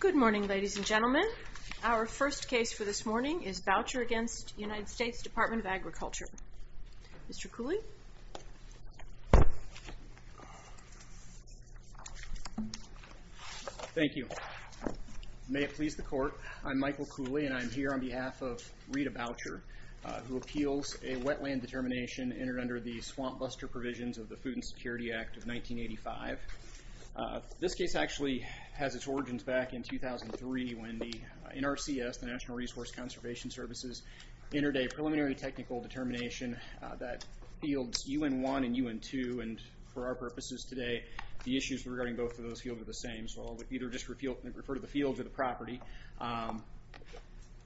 Good morning ladies and gentlemen. Our first case for this morning is Boucher against United States Department of Agriculture. Mr. Cooley. Thank you. May it please the court, I'm Michael Cooley and I'm here on behalf of Rita Boucher who appeals a wetland determination entered under the swamp buster provisions of the Department of Agriculture. The Department of Agriculture actually has its origins back in 2003 when the NRCS, the National Resource Conservation Services, entered a preliminary technical determination that fields UN1 and UN2, and for our purposes today the issues regarding both of those fields are the same, so I'll either just refer to the fields or the property.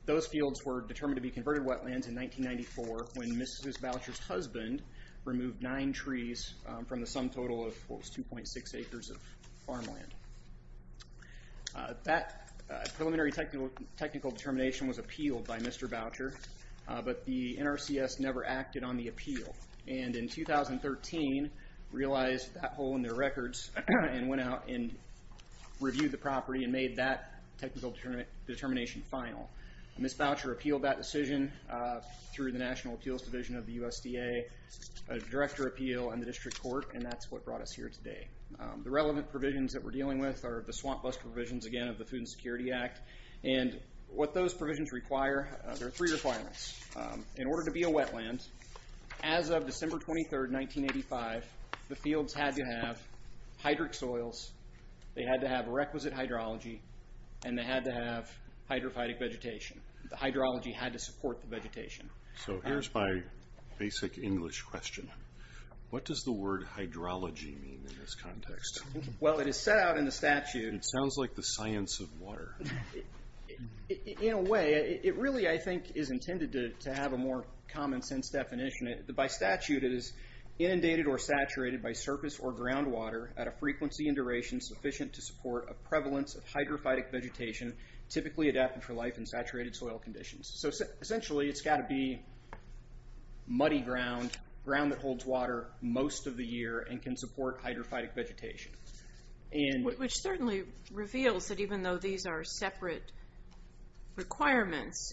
Those fields were determined to be converted wetlands in 1994 when Mrs. Boucher's husband removed nine trees from the sum total of 2.6 acres of farmland. That preliminary technical determination was appealed by Mr. Boucher, but the NRCS never acted on the appeal, and in 2013 realized that hole in their records and went out and reviewed the property and made that technical determination final. Ms. Boucher appealed that decision through the National Appeals Division of the USDA, a that brought us here today. The relevant provisions that we're dealing with are the swamp buster provisions again of the Food and Security Act, and what those provisions require, there are three requirements. In order to be a wetland, as of December 23rd, 1985, the fields had to have hydric soils, they had to have requisite hydrology, and they had to have hydrophytic vegetation. The hydrology had to support the vegetation. So here's my basic English question. What does the word hydrology mean in this context? Well, it is set out in the statute... It sounds like the science of water. In a way, it really, I think, is intended to have a more common-sense definition. By statute, it is inundated or saturated by surface or groundwater at a frequency and duration sufficient to support a prevalence of hydrophytic vegetation typically adapted for life in saturated soil conditions. So essentially, it's got to be muddy ground, ground that holds water most of the year, and can support hydrophytic vegetation. Which certainly reveals that even though these are separate requirements,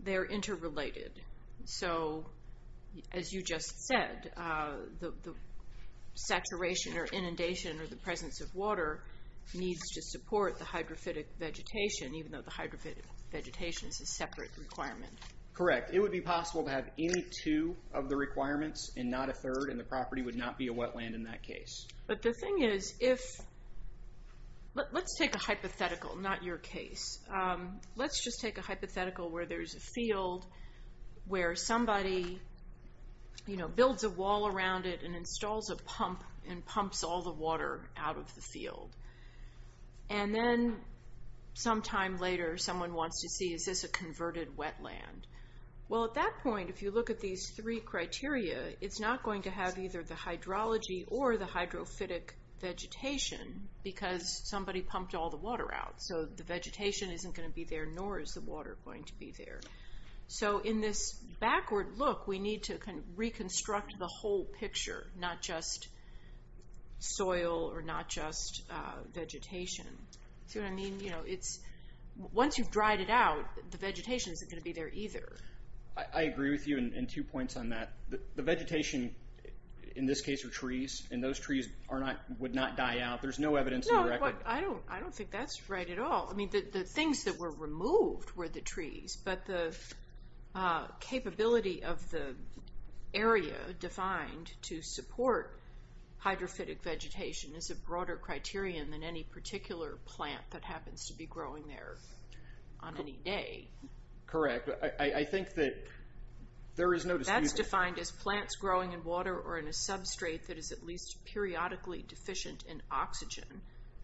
they're interrelated. So, as you just said, the saturation or inundation or the presence of water needs to support the hydrophytic vegetation, even though the hydrophytic vegetation is a separate requirement. Correct. It would be possible to have any of the requirements and not a third, and the property would not be a wetland in that case. But the thing is, if... Let's take a hypothetical, not your case. Let's just take a hypothetical where there's a field where somebody, you know, builds a wall around it and installs a pump and pumps all the water out of the field. And then, sometime later, someone wants to see, is this a converted wetland? Well, at that phase three criteria, it's not going to have either the hydrology or the hydrophytic vegetation, because somebody pumped all the water out. So the vegetation isn't going to be there, nor is the water going to be there. So in this backward look, we need to reconstruct the whole picture, not just soil or not just vegetation. See what I mean? You know, it's... Once you've dried it out, the points on that, the vegetation in this case are trees, and those trees are not, would not die out. There's no evidence... No, I don't think that's right at all. I mean, the things that were removed were the trees, but the capability of the area defined to support hydrophytic vegetation is a broader criterion than any particular plant that happens to be growing there on any day. Correct. I think that there is no dispute... That's defined as plants growing in water or in a substrate that is at least periodically deficient in oxygen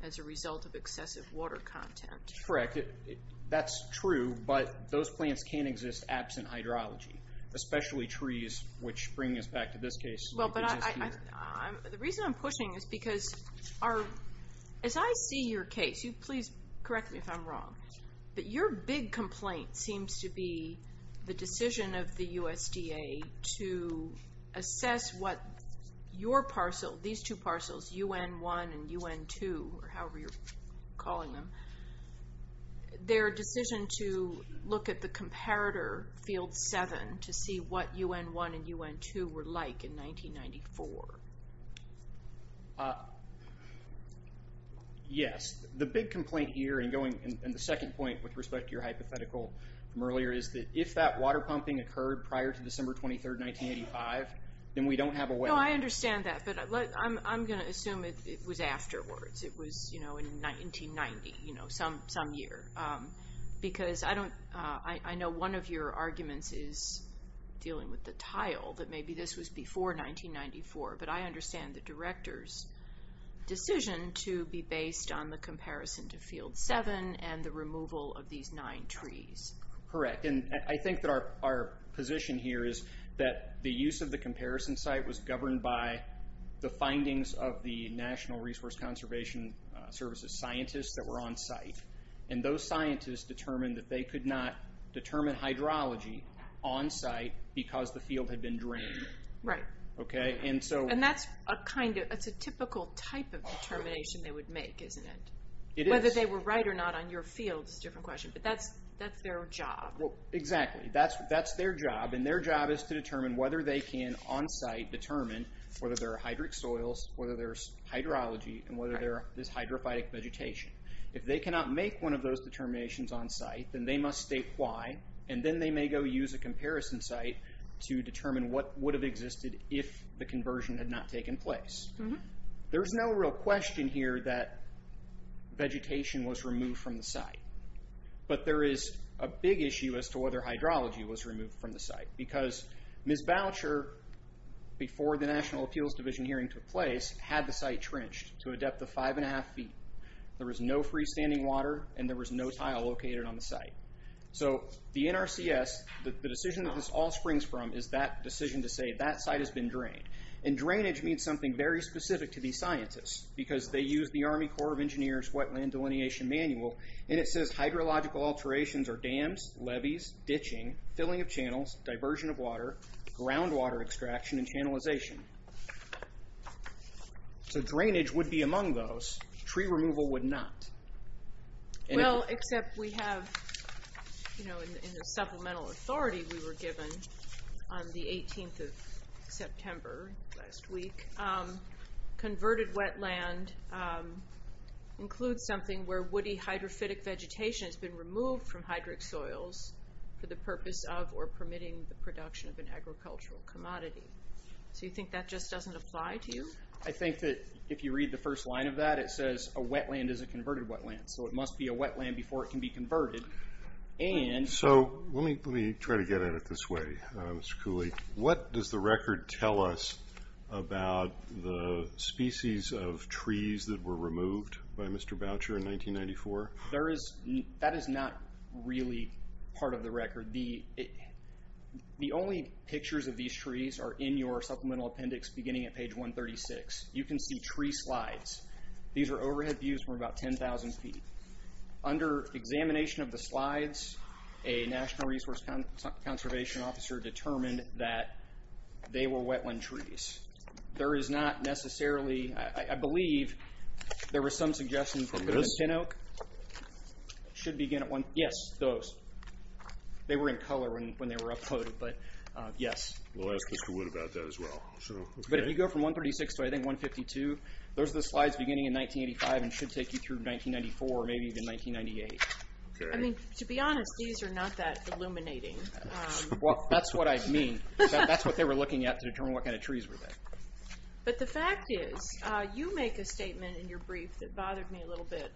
as a result of excessive water content. Correct. That's true, but those plants can't exist absent hydrology, especially trees, which bring us back to this case. Well, but the reason I'm pushing is because, as I see your case, you please correct me if I'm wrong, but your big complaint seems to be the decision of the USDA to assess what your parcel, these two parcels, UN-1 and UN-2, or however you're calling them, their decision to look at the comparator field 7 to see what UN-1 and UN-2 were like in 1994. Yes, the big complaint here, and going, and the second point with respect to your hypothetical from earlier, is that if that water pumping occurred prior to December 23rd, 1985, then we don't have a way... No, I understand that, but I'm gonna assume it was afterwards. It was, you know, in 1990, you know, some year, because I don't, I know one of your arguments is dealing with the tile, that maybe this was before 1994, but I understand the director's decision to be based on the comparison to field 7 and the removal of these nine trees. Correct, and I think that our position here is that the use of the comparison site was governed by the findings of the National Resource Conservation Service's scientists that were on site, and those scientists determined that they could not determine hydrology on site because the field had been drained. Right. Okay, and so... And that's a kind of, it's a typical type of determination they would make, isn't it? It is. Whether they were right or not on your field is a different question, but that's their job. Exactly, that's their job, and their job is to determine whether they can, on site, determine whether there are hydric soils, whether there's hydrology, and whether there is hydrophytic vegetation. If they cannot make one of those determinations on site, then they must state why, and then they may go use a comparison site to determine what would have existed if the conversion had not taken place. There's no real question here that vegetation was removed from the site, but there is a big issue as to whether hydrology was removed from the site, because Ms. Boucher, before the National Appeals Division hearing took place, had the site trenched to a depth of five and a half feet. There was no freestanding water, and there was no tile located on the site. So the NRCS, the decision to say that site has been drained. And drainage means something very specific to these scientists, because they use the Army Corps of Engineers Wetland Delineation Manual, and it says hydrological alterations are dams, levees, ditching, filling of channels, diversion of water, groundwater extraction, and channelization. So drainage would be among those. Tree removal would not. Well, except we have, you know, in the supplemental authority we had on the 18th of September last week, converted wetland includes something where woody hydrophytic vegetation has been removed from hydric soils for the purpose of or permitting the production of an agricultural commodity. So you think that just doesn't apply to you? I think that if you read the first line of that, it says a wetland is a converted wetland, so it must be a wetland before it can be converted. And... So let me try to get at it this way, Mr. Cooley. What does the record tell us about the species of trees that were removed by Mr. Boucher in 1994? That is not really part of the record. The only pictures of these trees are in your supplemental appendix beginning at page 136. You can see tree slides. These are overhead views from about when the conservation officer determined that they were wetland trees. There is not necessarily... I believe there were some suggestions... Those spinoak should begin at one... Yes, those. They were in color when they were uploaded, but yes. We'll ask Mr. Wood about that as well. But if you go from 136 to I think 152, those are the slides beginning in 1985 and should take you through 1994, maybe even 1998. I mean, to be honest, these are not that illuminating. Well, that's what I mean. That's what they were looking at to determine what kind of trees were there. But the fact is, you make a statement in your brief that bothered me a little bit.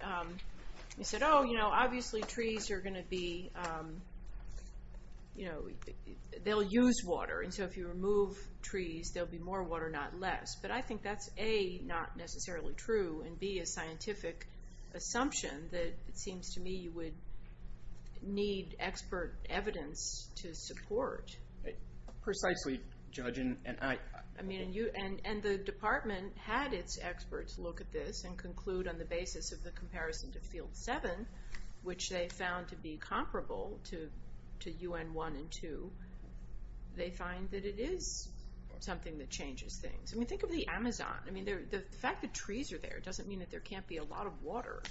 You said, oh, you know, obviously trees are going to be... They'll use water, and so if you remove trees, there'll be more water, not less. But I think that's A, not necessarily true, and B, a scientific assumption that it seems to me you would need expert evidence to support. Precisely, Judge. And the department had its experts look at this and conclude on the basis of the comparison to Field 7, which they found to be comparable to UN 1 and 2. They find that it is something that changes things. I mean, think of the Amazon. I mean, the fact that trees are there doesn't mean that there can't be a lot of water.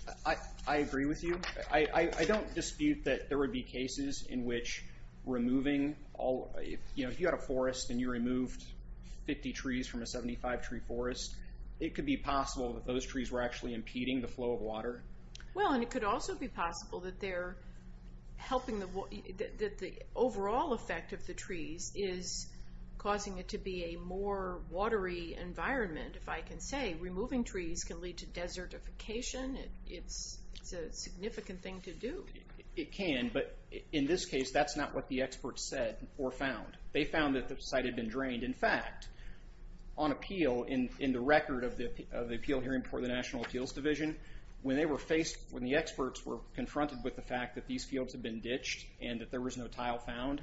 I agree with you. I don't dispute that there would be cases in which removing all... You know, if you had a forest and you removed 50 trees from a 75-tree forest, it could be possible that those trees were actually impeding the flow of water. Well, and it could also be possible that the overall effect of the trees is causing it to be a more watery environment, if I can say. Removing trees can lead to desertification. It's a significant thing to do. It can, but in this case, that's not what the experts said or found. They found that the site had been drained. In fact, on appeal, in the record of the appeal hearing before the National Appeals Division, when the experts were confronted with the fact that these fields had been ditched and that there was no tile I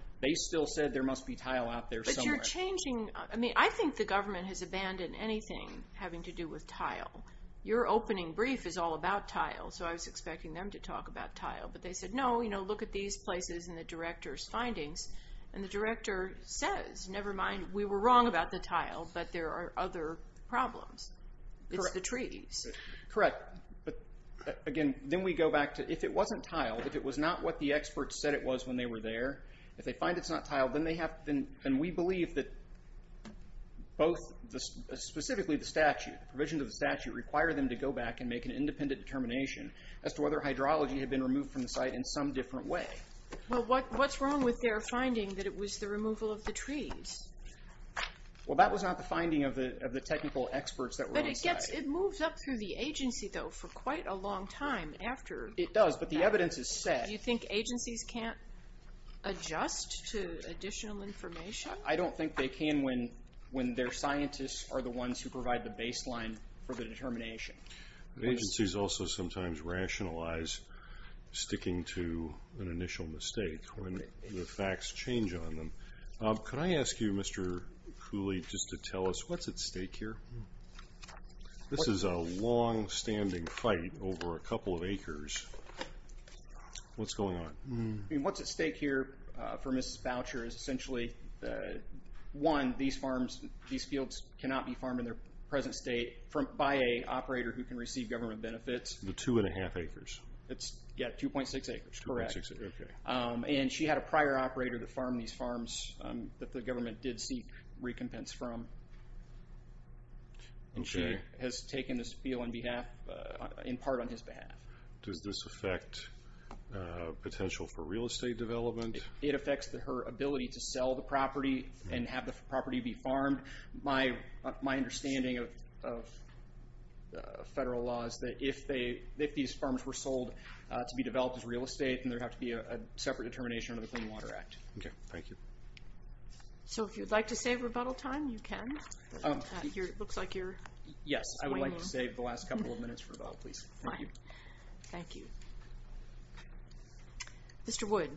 mean, I think the government has abandoned anything having to do with tile. Your opening brief is all about tile, so I was expecting them to talk about tile, but they said, no, you know, look at these places and the director's findings, and the director says, never mind, we were wrong about the tile, but there are other problems. It's the trees. Correct, but again, then we go back to, if it wasn't tile, if it was not what the experts said it was when they were there, if they find it's not tile, then we believe that both, specifically the statute, the provisions of the statute, require them to go back and make an independent determination as to whether hydrology had been removed from the site in some different way. Well, what's wrong with their finding that it was the removal of the trees? Well, that was not the finding of the technical experts that were on the site. But it moves up through the agency, though, for quite a long time after that. It does, but the evidence has said. Do you think agencies can't adjust to additional information? I don't think they can when their scientists are the ones who provide the baseline for the determination. Agencies also sometimes rationalize sticking to an initial mistake when the facts change on them. Could I ask you, Mr. Cooley, just to tell us what's at stake here? This is a longstanding fight over a couple of acres. What's going on? I mean, what's at stake here for Mrs. Boucher is essentially, one, these fields cannot be farmed in their present state by an operator who can receive government benefits. The two and a half acres? Yeah, 2.6 acres, correct. 2.6, okay. And she had a prior operator that farmed these farms that the government did seek recompense from. And she has taken this field in part on his behalf. Does this affect potential for real estate development? It affects her ability to sell the property and have the property be farmed. My understanding of federal law is that if these farms were sold, to be developed as real estate, then there would have to be a separate determination under the Clean Water Act. Okay, thank you. So if you'd like to save rebuttal time, you can. Looks like you're weighing in. Yes, I would like to save the last couple of minutes for rebuttal, please. Fine. Thank you. Mr. Wood.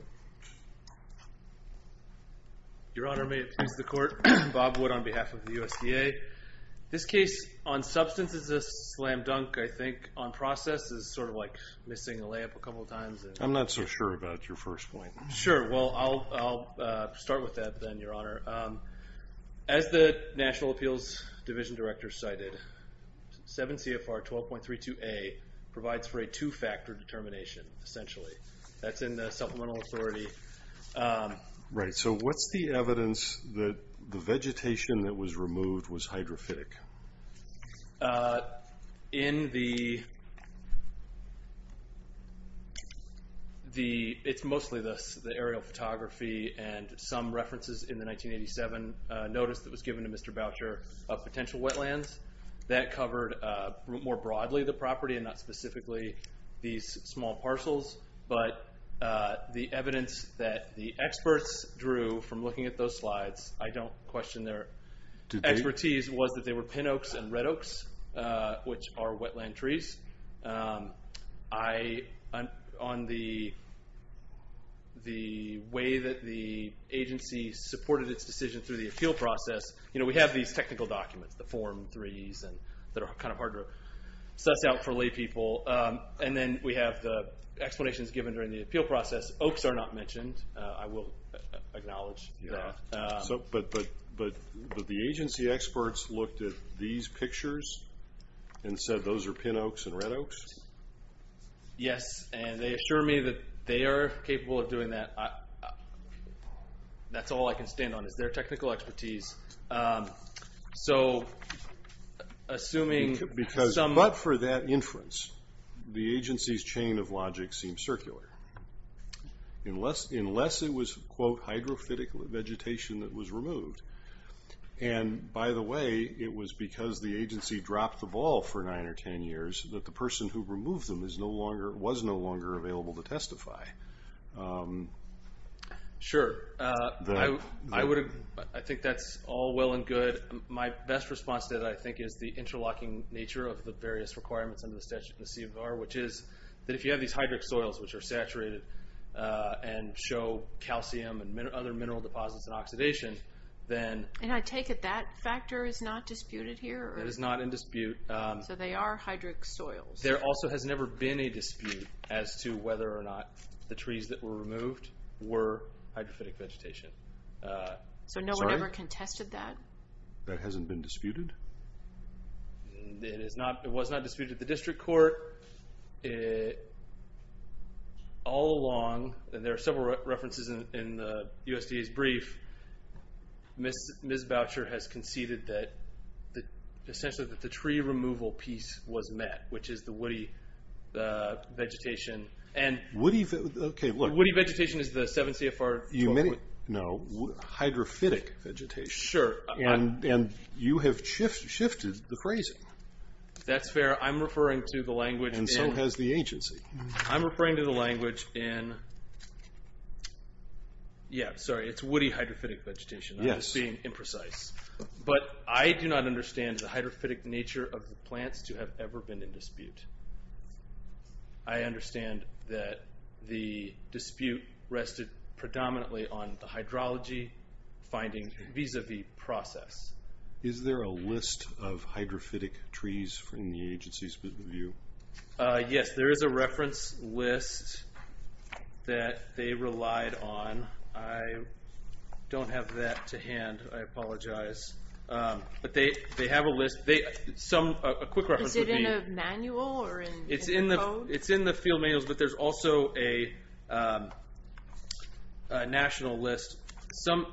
Your Honor, may it please the Court, Bob Wood on behalf of the USDA. This case on substance is a slam dunk, I think you're missing a lamp a couple of times. I'm not so sure about your first point. Sure, well, I'll start with that then, Your Honor. As the National Appeals Division Director cited, 7 CFR 12.32A provides for a two-factor determination, essentially. That's in the supplemental authority. Right, so what's the evidence that the vegetation that was removed was hydrophytic? It's mostly the aerial photography and some references in the 1987 notice that was given to Mr. Boucher of potential wetlands. That covered more broadly the property and not specifically these small parcels, but the expertise was that they were pin oaks and red oaks, which are wetland trees. On the way that the agency supported its decision through the appeal process, we have these technical documents, the form threes that are kind of hard to suss out for lay people, and then we have the explanations given during the appeal process. Oaks are not mentioned, I will acknowledge that. But the agency experts looked at these pictures and said those are pin oaks and red oaks? Yes, and they assure me that they are capable of doing that. That's all I can stand on is their technical expertise. But for that inference, the agency's chain of logic seems circular. Unless it was, quote, hydrophytic vegetation that was removed, and by the way, it was because the agency dropped the ball for nine or 10 years that the person who removed them was no longer available to testify. Sure. I think that's all well and good. My best response to that, I think, is the interlocking nature of the various requirements under the statute in the C.E.V.R., which is that if you have these hydric soils, which are saturated and show calcium and other mineral deposits and oxidation, then... And I take it that factor is not disputed here? It is not in dispute. So they are hydric soils. There also has never been a dispute as to whether or not the trees that were removed were hydrophytic vegetation. So no one ever contested that? That hasn't been disputed? It was not disputed at the district court. All along, and there are several references in the USDA's brief, Ms. Boucher has conceded that essentially that the tree removal piece was met, which is the woody vegetation. Woody vegetation is the 7 C.F.R. No, hydrophytic vegetation. And you have shifted the phrasing. That's fair. I'm referring to the language... And so has the agency. I'm referring to the language in... Yeah, sorry, it's woody hydrophytic vegetation. I'm just being imprecise. But I do not understand the hydrophytic nature of the plants to have ever been in dispute. I understand that the dispute rested predominantly on the hydrology findings vis-a-vis process. Is there a list of hydrophytic trees in the agency's view? Yes, there is a reference list that they relied on. I don't have that to hand. I apologize. But they have a list. A quick reference would be... Is it in a manual or in code? It's in the field manuals, but there's also a national list. Some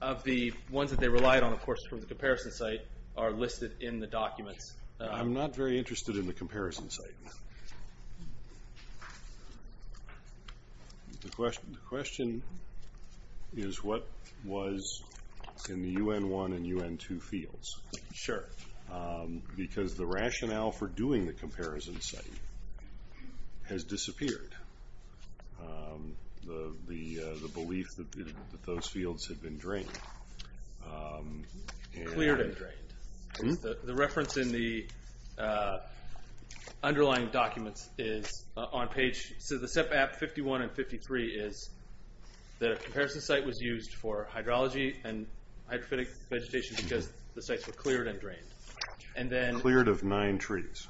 of the ones that they relied on, of course, from the comparison site are listed in the documents. I'm not very interested in the comparison site. The question is, what was in the UN1 and UN2 fields? Sure. Because the rationale for doing the comparison site has disappeared. The belief that those fields had been drained. Cleared and drained. The reference in the underlying documents is on page... So the SEPAP 51 and 53 is that a comparison site was used for hydrology and hydrophytic vegetation because the sites were cleared and drained. Cleared of nine trees.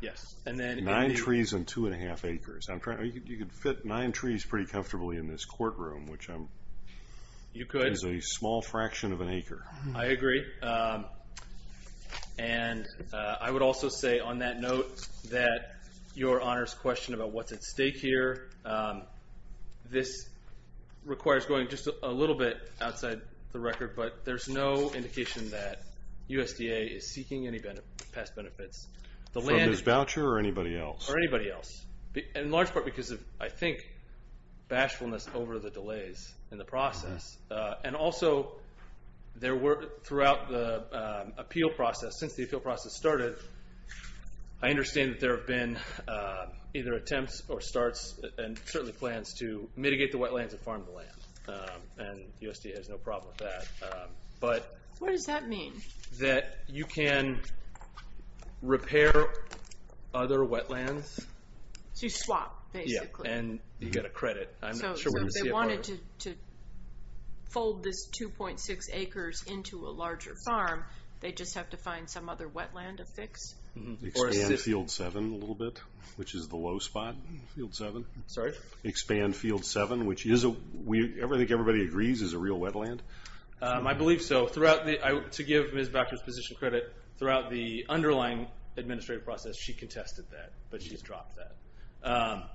Yes. Nine trees and two and a half acres. You could fit nine trees pretty comfortably in this courtroom, which is a small fraction of an acre. I agree. I would also say on that note that your Honor's question about what's at stake here, this requires going just a little bit outside the record, but there's no indication that USDA is seeking any past benefits. From Ms. Boucher or anybody else? Or anybody else. In large part because of, I think, bashfulness over the delays in the process. Also, throughout the appeal process, since the appeal process started, I understand that there have been either attempts or starts and certainly plans to mitigate the wetlands and farm the land. And USDA has no problem with that. What does that mean? That you can repair other wetlands. So you swap, basically. And you get a credit. I'm not sure where the CFO... On some other wetland a fix. Expand field seven a little bit, which is the low spot, field seven. Sorry? Expand field seven, which I think everybody agrees is a real wetland. I believe so. To give Ms. Boucher's position credit, throughout the underlying administrative process she contested that, but she's dropped that.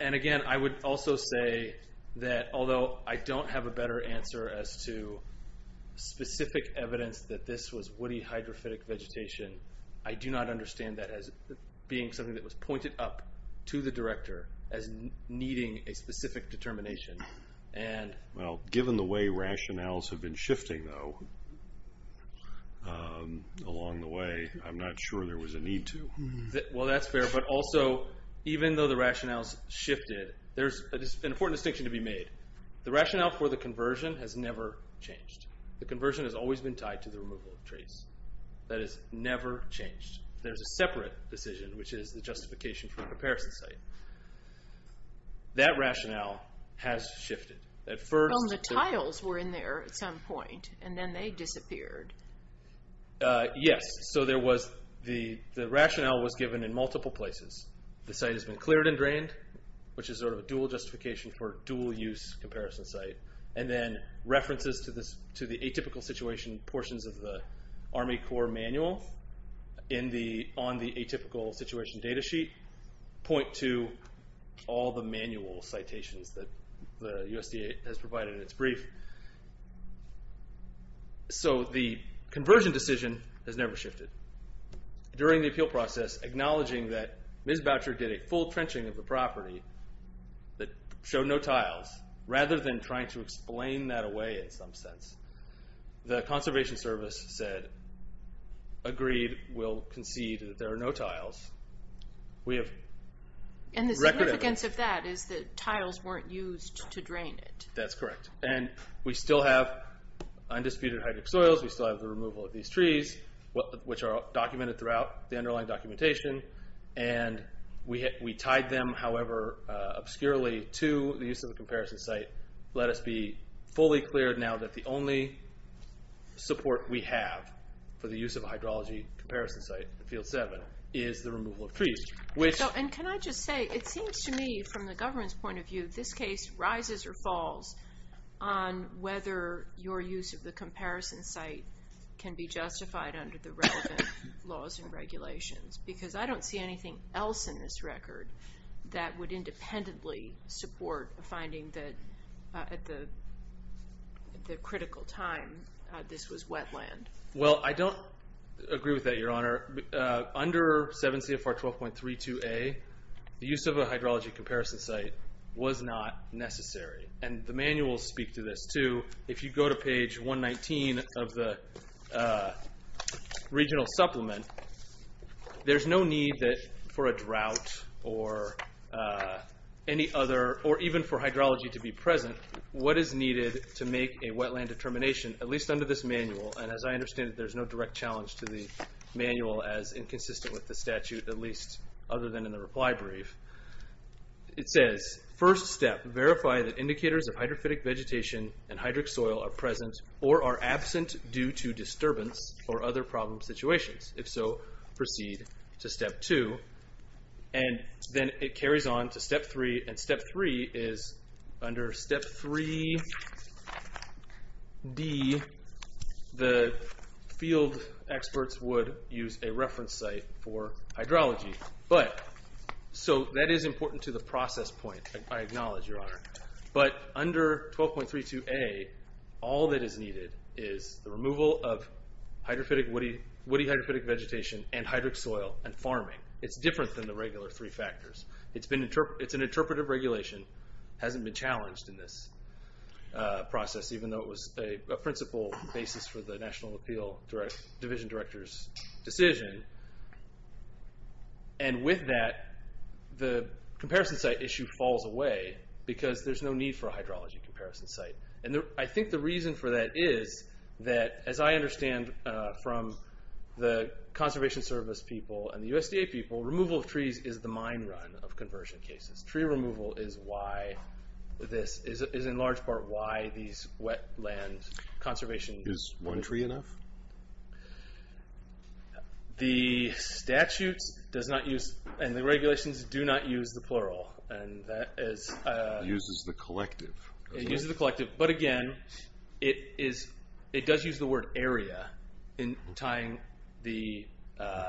And again, I would also say that although I don't have a better answer as to specific evidence that this was woody hydrophytic vegetation, I do not understand that as being something that was pointed up to the director as needing a specific determination. Well, given the way rationales have been shifting though along the way, I'm not sure there was a need to. Well, that's fair. But also, even though the rationales shifted, there's an important distinction to be made. The rationale for the conversion has never changed. The conversion has always been tied to the removal of traits. That has never changed. There's a separate decision, which is the justification for the comparison site. That rationale has shifted. Well, the tiles were in there at some point, and then they disappeared. Yes. So the rationale was given in multiple places. The site has been cleared and drained, which is sort of a dual justification for dual-use comparison site. And then references to the atypical situation portions of the Army Corps manual on the atypical situation data sheet point to all the manual citations that the USDA has provided in its brief. So the conversion decision has never shifted. During the appeal process, acknowledging that Ms. Boucher did a full trenching of the property that showed no tiles, rather than trying to explain that away in some sense, the Conservation Service said, agreed, will concede that there are no tiles. And the significance of that is that tiles weren't used to drain it. That's correct. And we still have undisputed hydric soils. We still have the removal of these trees, which are documented throughout the underlying documentation. And we tied them, however obscurely, to the use of the comparison site. Let us be fully clear now that the only support we have for the use of a hydrology comparison site, Field 7, is the removal of trees. And can I just say, it seems to me, from the government's point of view, this case rises or falls on whether your use of the comparison site can be justified under the relevant laws and regulations. Because I don't see anything else in this record that would independently support a finding that at the critical time, this was wetland. Well, I don't agree with that, Your Honor. Under 7 CFR 12.32a, the use of a hydrology comparison site was not necessary. And the manuals speak to this, too. If you go to page 119 of the regional supplement, there's no need for a drought or any other, or even for hydrology to be present. What is needed to make a wetland determination, at least under this manual, and as I understand it, there's no direct challenge to the manual as inconsistent with the statute, at least other than in the reply brief. It says, first step, verify that indicators of hydrophytic vegetation and hydric soil are present or are absent due to disturbance or other problem situations. If so, proceed to step two. And then it carries on to step three. And step three is under step 3D, the field experts would use a reference site for hydrology. So that is important to the process point, I acknowledge, Your Honor. But under 12.32a, all that is needed is the removal of woody hydrophytic vegetation and hydric soil and farming. It's different than the regular three factors. It's an interpretive regulation. It hasn't been challenged in this process, even though it was a principal basis for the National Appeal Division Director's decision. And with that, the comparison site issue falls away because there's no need for a hydrology comparison site. And I think the reason for that is that, as I understand from the Conservation Service people and the USDA people, removal of trees is the mine run of conversion cases. Tree removal is why this is, in large part, why these wetland conservation— Is one tree enough? The statutes does not use—and the regulations do not use the plural. And that is— It uses the collective. It uses the collective. But again, it does use the word area in tying the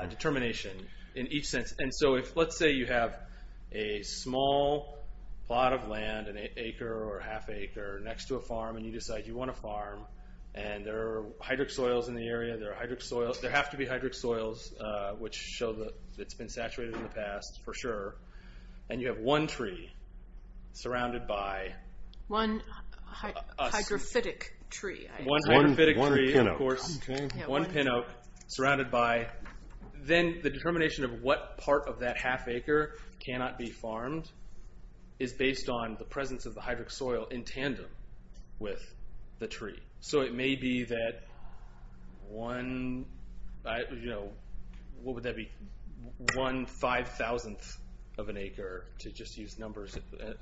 determination in each sense. And so let's say you have a small plot of land, an acre or half acre, next to a farm, and you decide you want to farm, and there are hydric soils in the area. There have to be hydric soils, which show that it's been saturated in the past, for sure. And you have one tree surrounded by— One hydrophytic tree. One hydrophytic tree, of course. One pin oak. One pin oak surrounded by— Then the determination of what part of that half acre cannot be farmed is based on the presence of the hydric soil in tandem with the tree. So it may be that one—what would that be? One five-thousandth of an acre, to just use numbers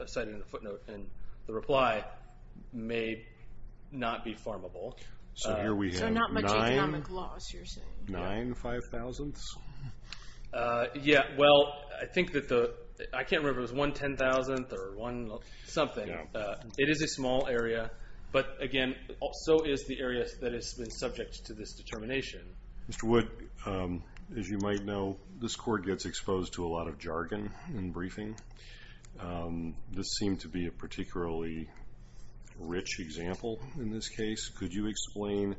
cited in the footnote, and the reply may not be farmable. So here we have nine five-thousandths? Yeah, well, I think that the—I can't remember if it was one ten-thousandth or one something. It is a small area, but, again, so is the area that has been subject to this determination. Mr. Wood, as you might know, this court gets exposed to a lot of jargon in briefing. This seemed to be a particularly rich example in this case. Could you explain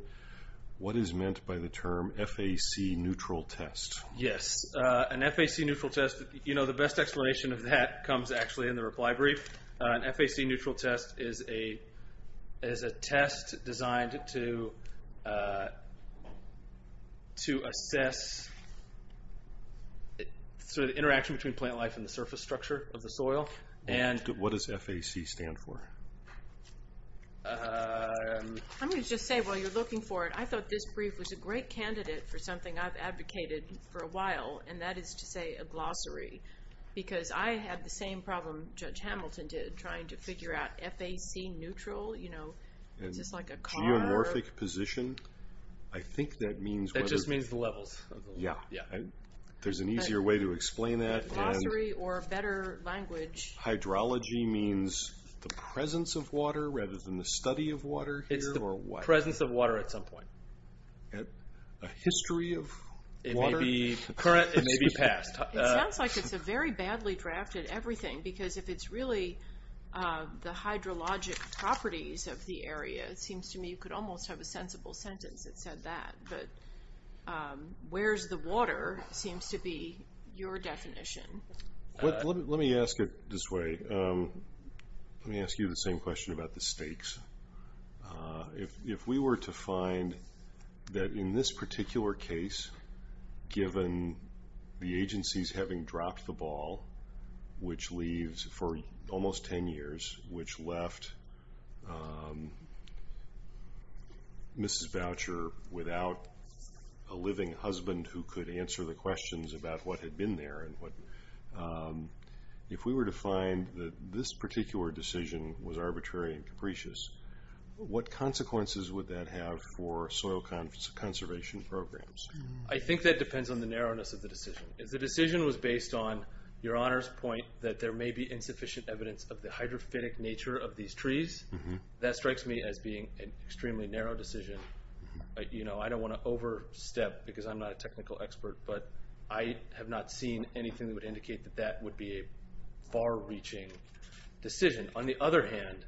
what is meant by the term FAC neutral test? Yes. An FAC neutral test, you know, the best explanation of that comes actually in the reply brief. An FAC neutral test is a test designed to assess the interaction between plant life and the surface structure of the soil. What does FAC stand for? I'm going to just say, while you're looking for it, I thought this brief was a great candidate for something I've advocated for a while, and that is to say a glossary, because I had the same problem Judge Hamilton did, trying to figure out FAC neutral, you know, is this like a car? A geomorphic position? I think that means— That just means the levels. There's an easier way to explain that. A glossary or a better language. Hydrology means the presence of water rather than the study of water here, or what? It's the presence of water at some point. A history of water? It may be past. It sounds like it's a very badly drafted everything, because if it's really the hydrologic properties of the area, it seems to me you could almost have a sensible sentence that said that, but where's the water seems to be your definition. Let me ask it this way. Let me ask you the same question about the stakes. If we were to find that in this particular case, given the agencies having dropped the ball, which leaves for almost 10 years, which left Mrs. Boucher without a living husband who could answer the questions about what had been there, if we were to find that this particular decision was arbitrary and capricious, what consequences would that have for soil conservation programs? I think that depends on the narrowness of the decision. If the decision was based on Your Honor's point that there may be insufficient evidence of the hydrophytic nature of these trees, that strikes me as being an extremely narrow decision. I don't want to overstep, because I'm not a technical expert, but I have not seen anything that would indicate that that would be a far-reaching decision. On the other hand,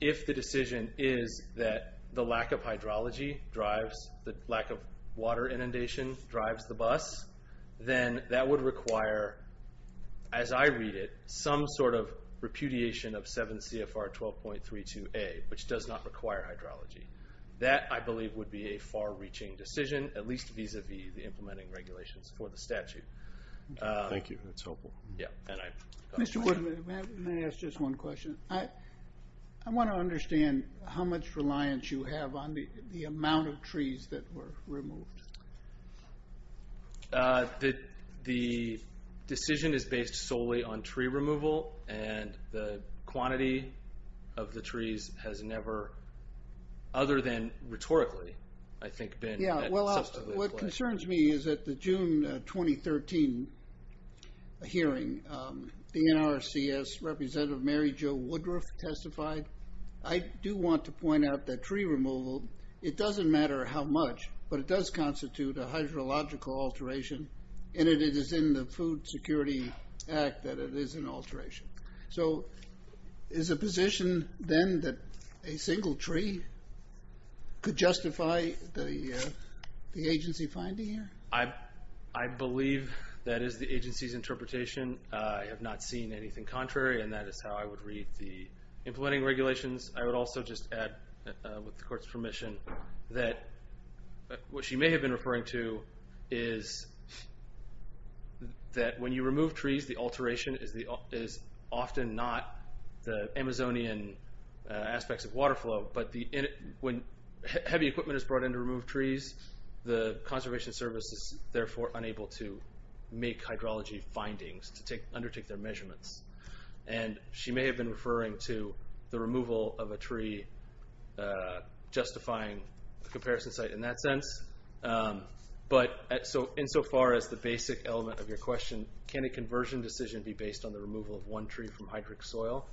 if the decision is that the lack of hydrology drives, the lack of water inundation drives the bus, then that would require, as I read it, some sort of repudiation of 7 CFR 12.32A, which does not require hydrology. That, I believe, would be a far-reaching decision, at least vis-a-vis the implementing regulations for the statute. Thank you. That's helpful. Mr. Woodman, may I ask just one question? I want to understand how much reliance you have on the amount of trees that were removed. The decision is based solely on tree removal, and the quantity of the trees has never, other than rhetorically, I think, been that consistently. What concerns me is that the June 2013 hearing, the NRCS representative Mary Jo Woodruff testified. I do want to point out that tree removal, it doesn't matter how much, but it does constitute a hydrological alteration, and it is in the Food Security Act that it is an alteration. So is it a position, then, that a single tree could justify the agency finding here? I believe that is the agency's interpretation. I have not seen anything contrary, and that is how I would read the implementing regulations. I would also just add, with the court's permission, that what she may have been referring to is that when you remove trees, the alteration is often not the Amazonian aspects of water flow, but when heavy equipment is brought in to remove trees, the conservation service is therefore unable to make hydrology findings to undertake their measurements. And she may have been referring to the removal of a tree justifying the comparison site in that sense. But insofar as the basic element of your question, can a conversion decision be based on the removal of one tree from hydric soil,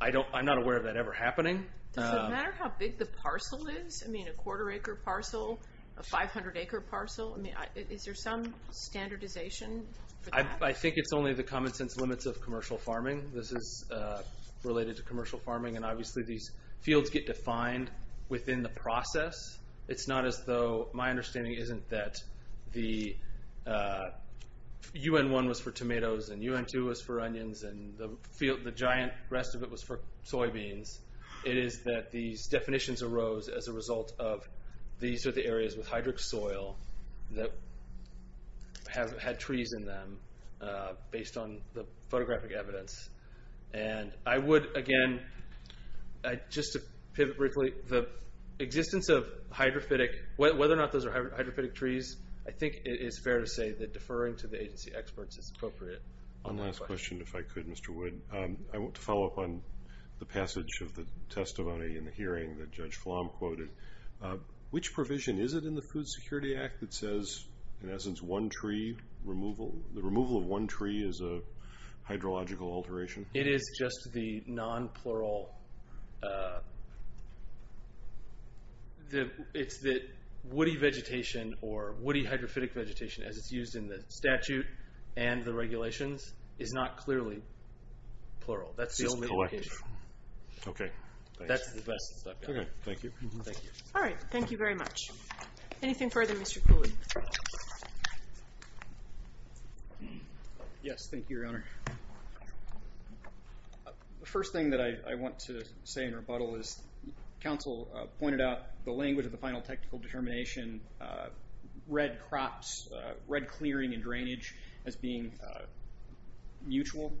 I'm not aware of that ever happening. Does it matter how big the parcel is? I mean, a quarter-acre parcel, a 500-acre parcel, is there some standardization for that? I think it's only the common-sense limits of commercial farming. This is related to commercial farming, and obviously these fields get defined within the process. It's not as though my understanding isn't that the UN1 was for tomatoes and UN2 was for onions and the giant rest of it was for soybeans. It is that these definitions arose as a result of these are the areas with hydric soil that had trees in them based on the photographic evidence. And I would, again, just to pivot briefly, the existence of hydrophytic, whether or not those are hydrophytic trees, I think it is fair to say that deferring to the agency experts is appropriate. One last question, if I could, Mr. Wood. I want to follow up on the passage of the testimony in the hearing that Judge Flom quoted. Which provision is it in the Food Security Act that says, in essence, the removal of one tree is a hydrological alteration? It is just the non-plural. It's that woody vegetation or woody hydrophytic vegetation, as it's used in the statute and the regulations, is not clearly plural. That's the only indication. Okay. That's the best I've got. Okay, thank you. Thank you. All right. Thank you very much. Anything further, Mr. Cooley? Yes, thank you, Your Honor. The first thing that I want to say in rebuttal is, counsel pointed out the language of the final technical determination, red crops, red clearing and drainage as being mutual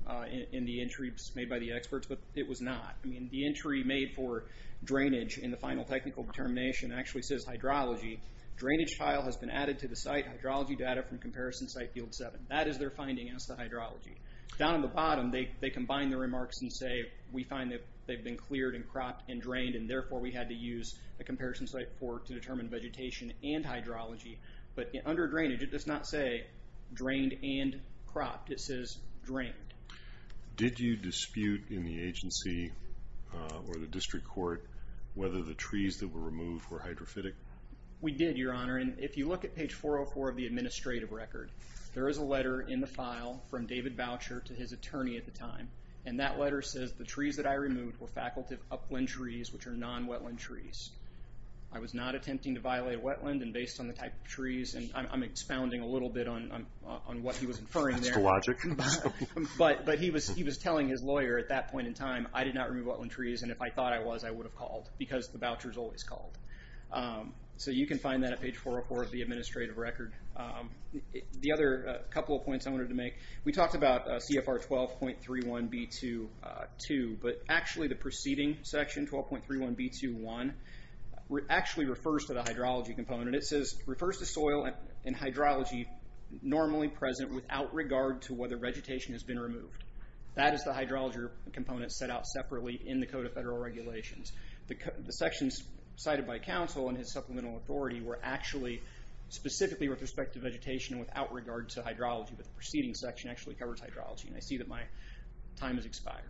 in the entries made by the experts, but it was not. I mean, the entry made for drainage in the final technical determination actually says hydrology. Drainage tile has been added to the site. Hydrology data from comparison site field seven. That is their finding as to hydrology. Down at the bottom, they combine their remarks and say, we find that they've been cleared and cropped and drained, and therefore we had to use a comparison site for it to determine vegetation and hydrology. But under drainage, it does not say drained and cropped. It says drained. Did you dispute in the agency or the district court whether the trees that were removed were hydrophytic? We did, Your Honor, and if you look at page 404 of the administrative record, there is a letter in the file from David Boucher to his attorney at the time, and that letter says the trees that I removed were faculty of upland trees, which are non-wetland trees. I was not attempting to violate wetland and based on the type of trees, and I'm expounding a little bit on what he was inferring there. That's the logic. But he was telling his lawyer at that point in time, I did not remove wetland trees, and if I thought I was, I would have called because the voucher is always called. So you can find that at page 404 of the administrative record. The other couple of points I wanted to make, we talked about CFR 12.31b2.2, but actually the preceding section, 12.31b2.1, actually refers to the hydrology component. It refers to soil and hydrology normally present without regard to whether vegetation has been removed. That is the hydrology component set out separately in the Code of Federal Regulations. The sections cited by counsel in his supplemental authority were actually specifically with respect to vegetation without regard to hydrology, but the preceding section actually covers hydrology, and I see that my time has expired.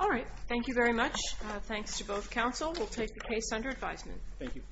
All right. Thank you very much. Thanks to both counsel. We'll take the case under advisement. Thank you.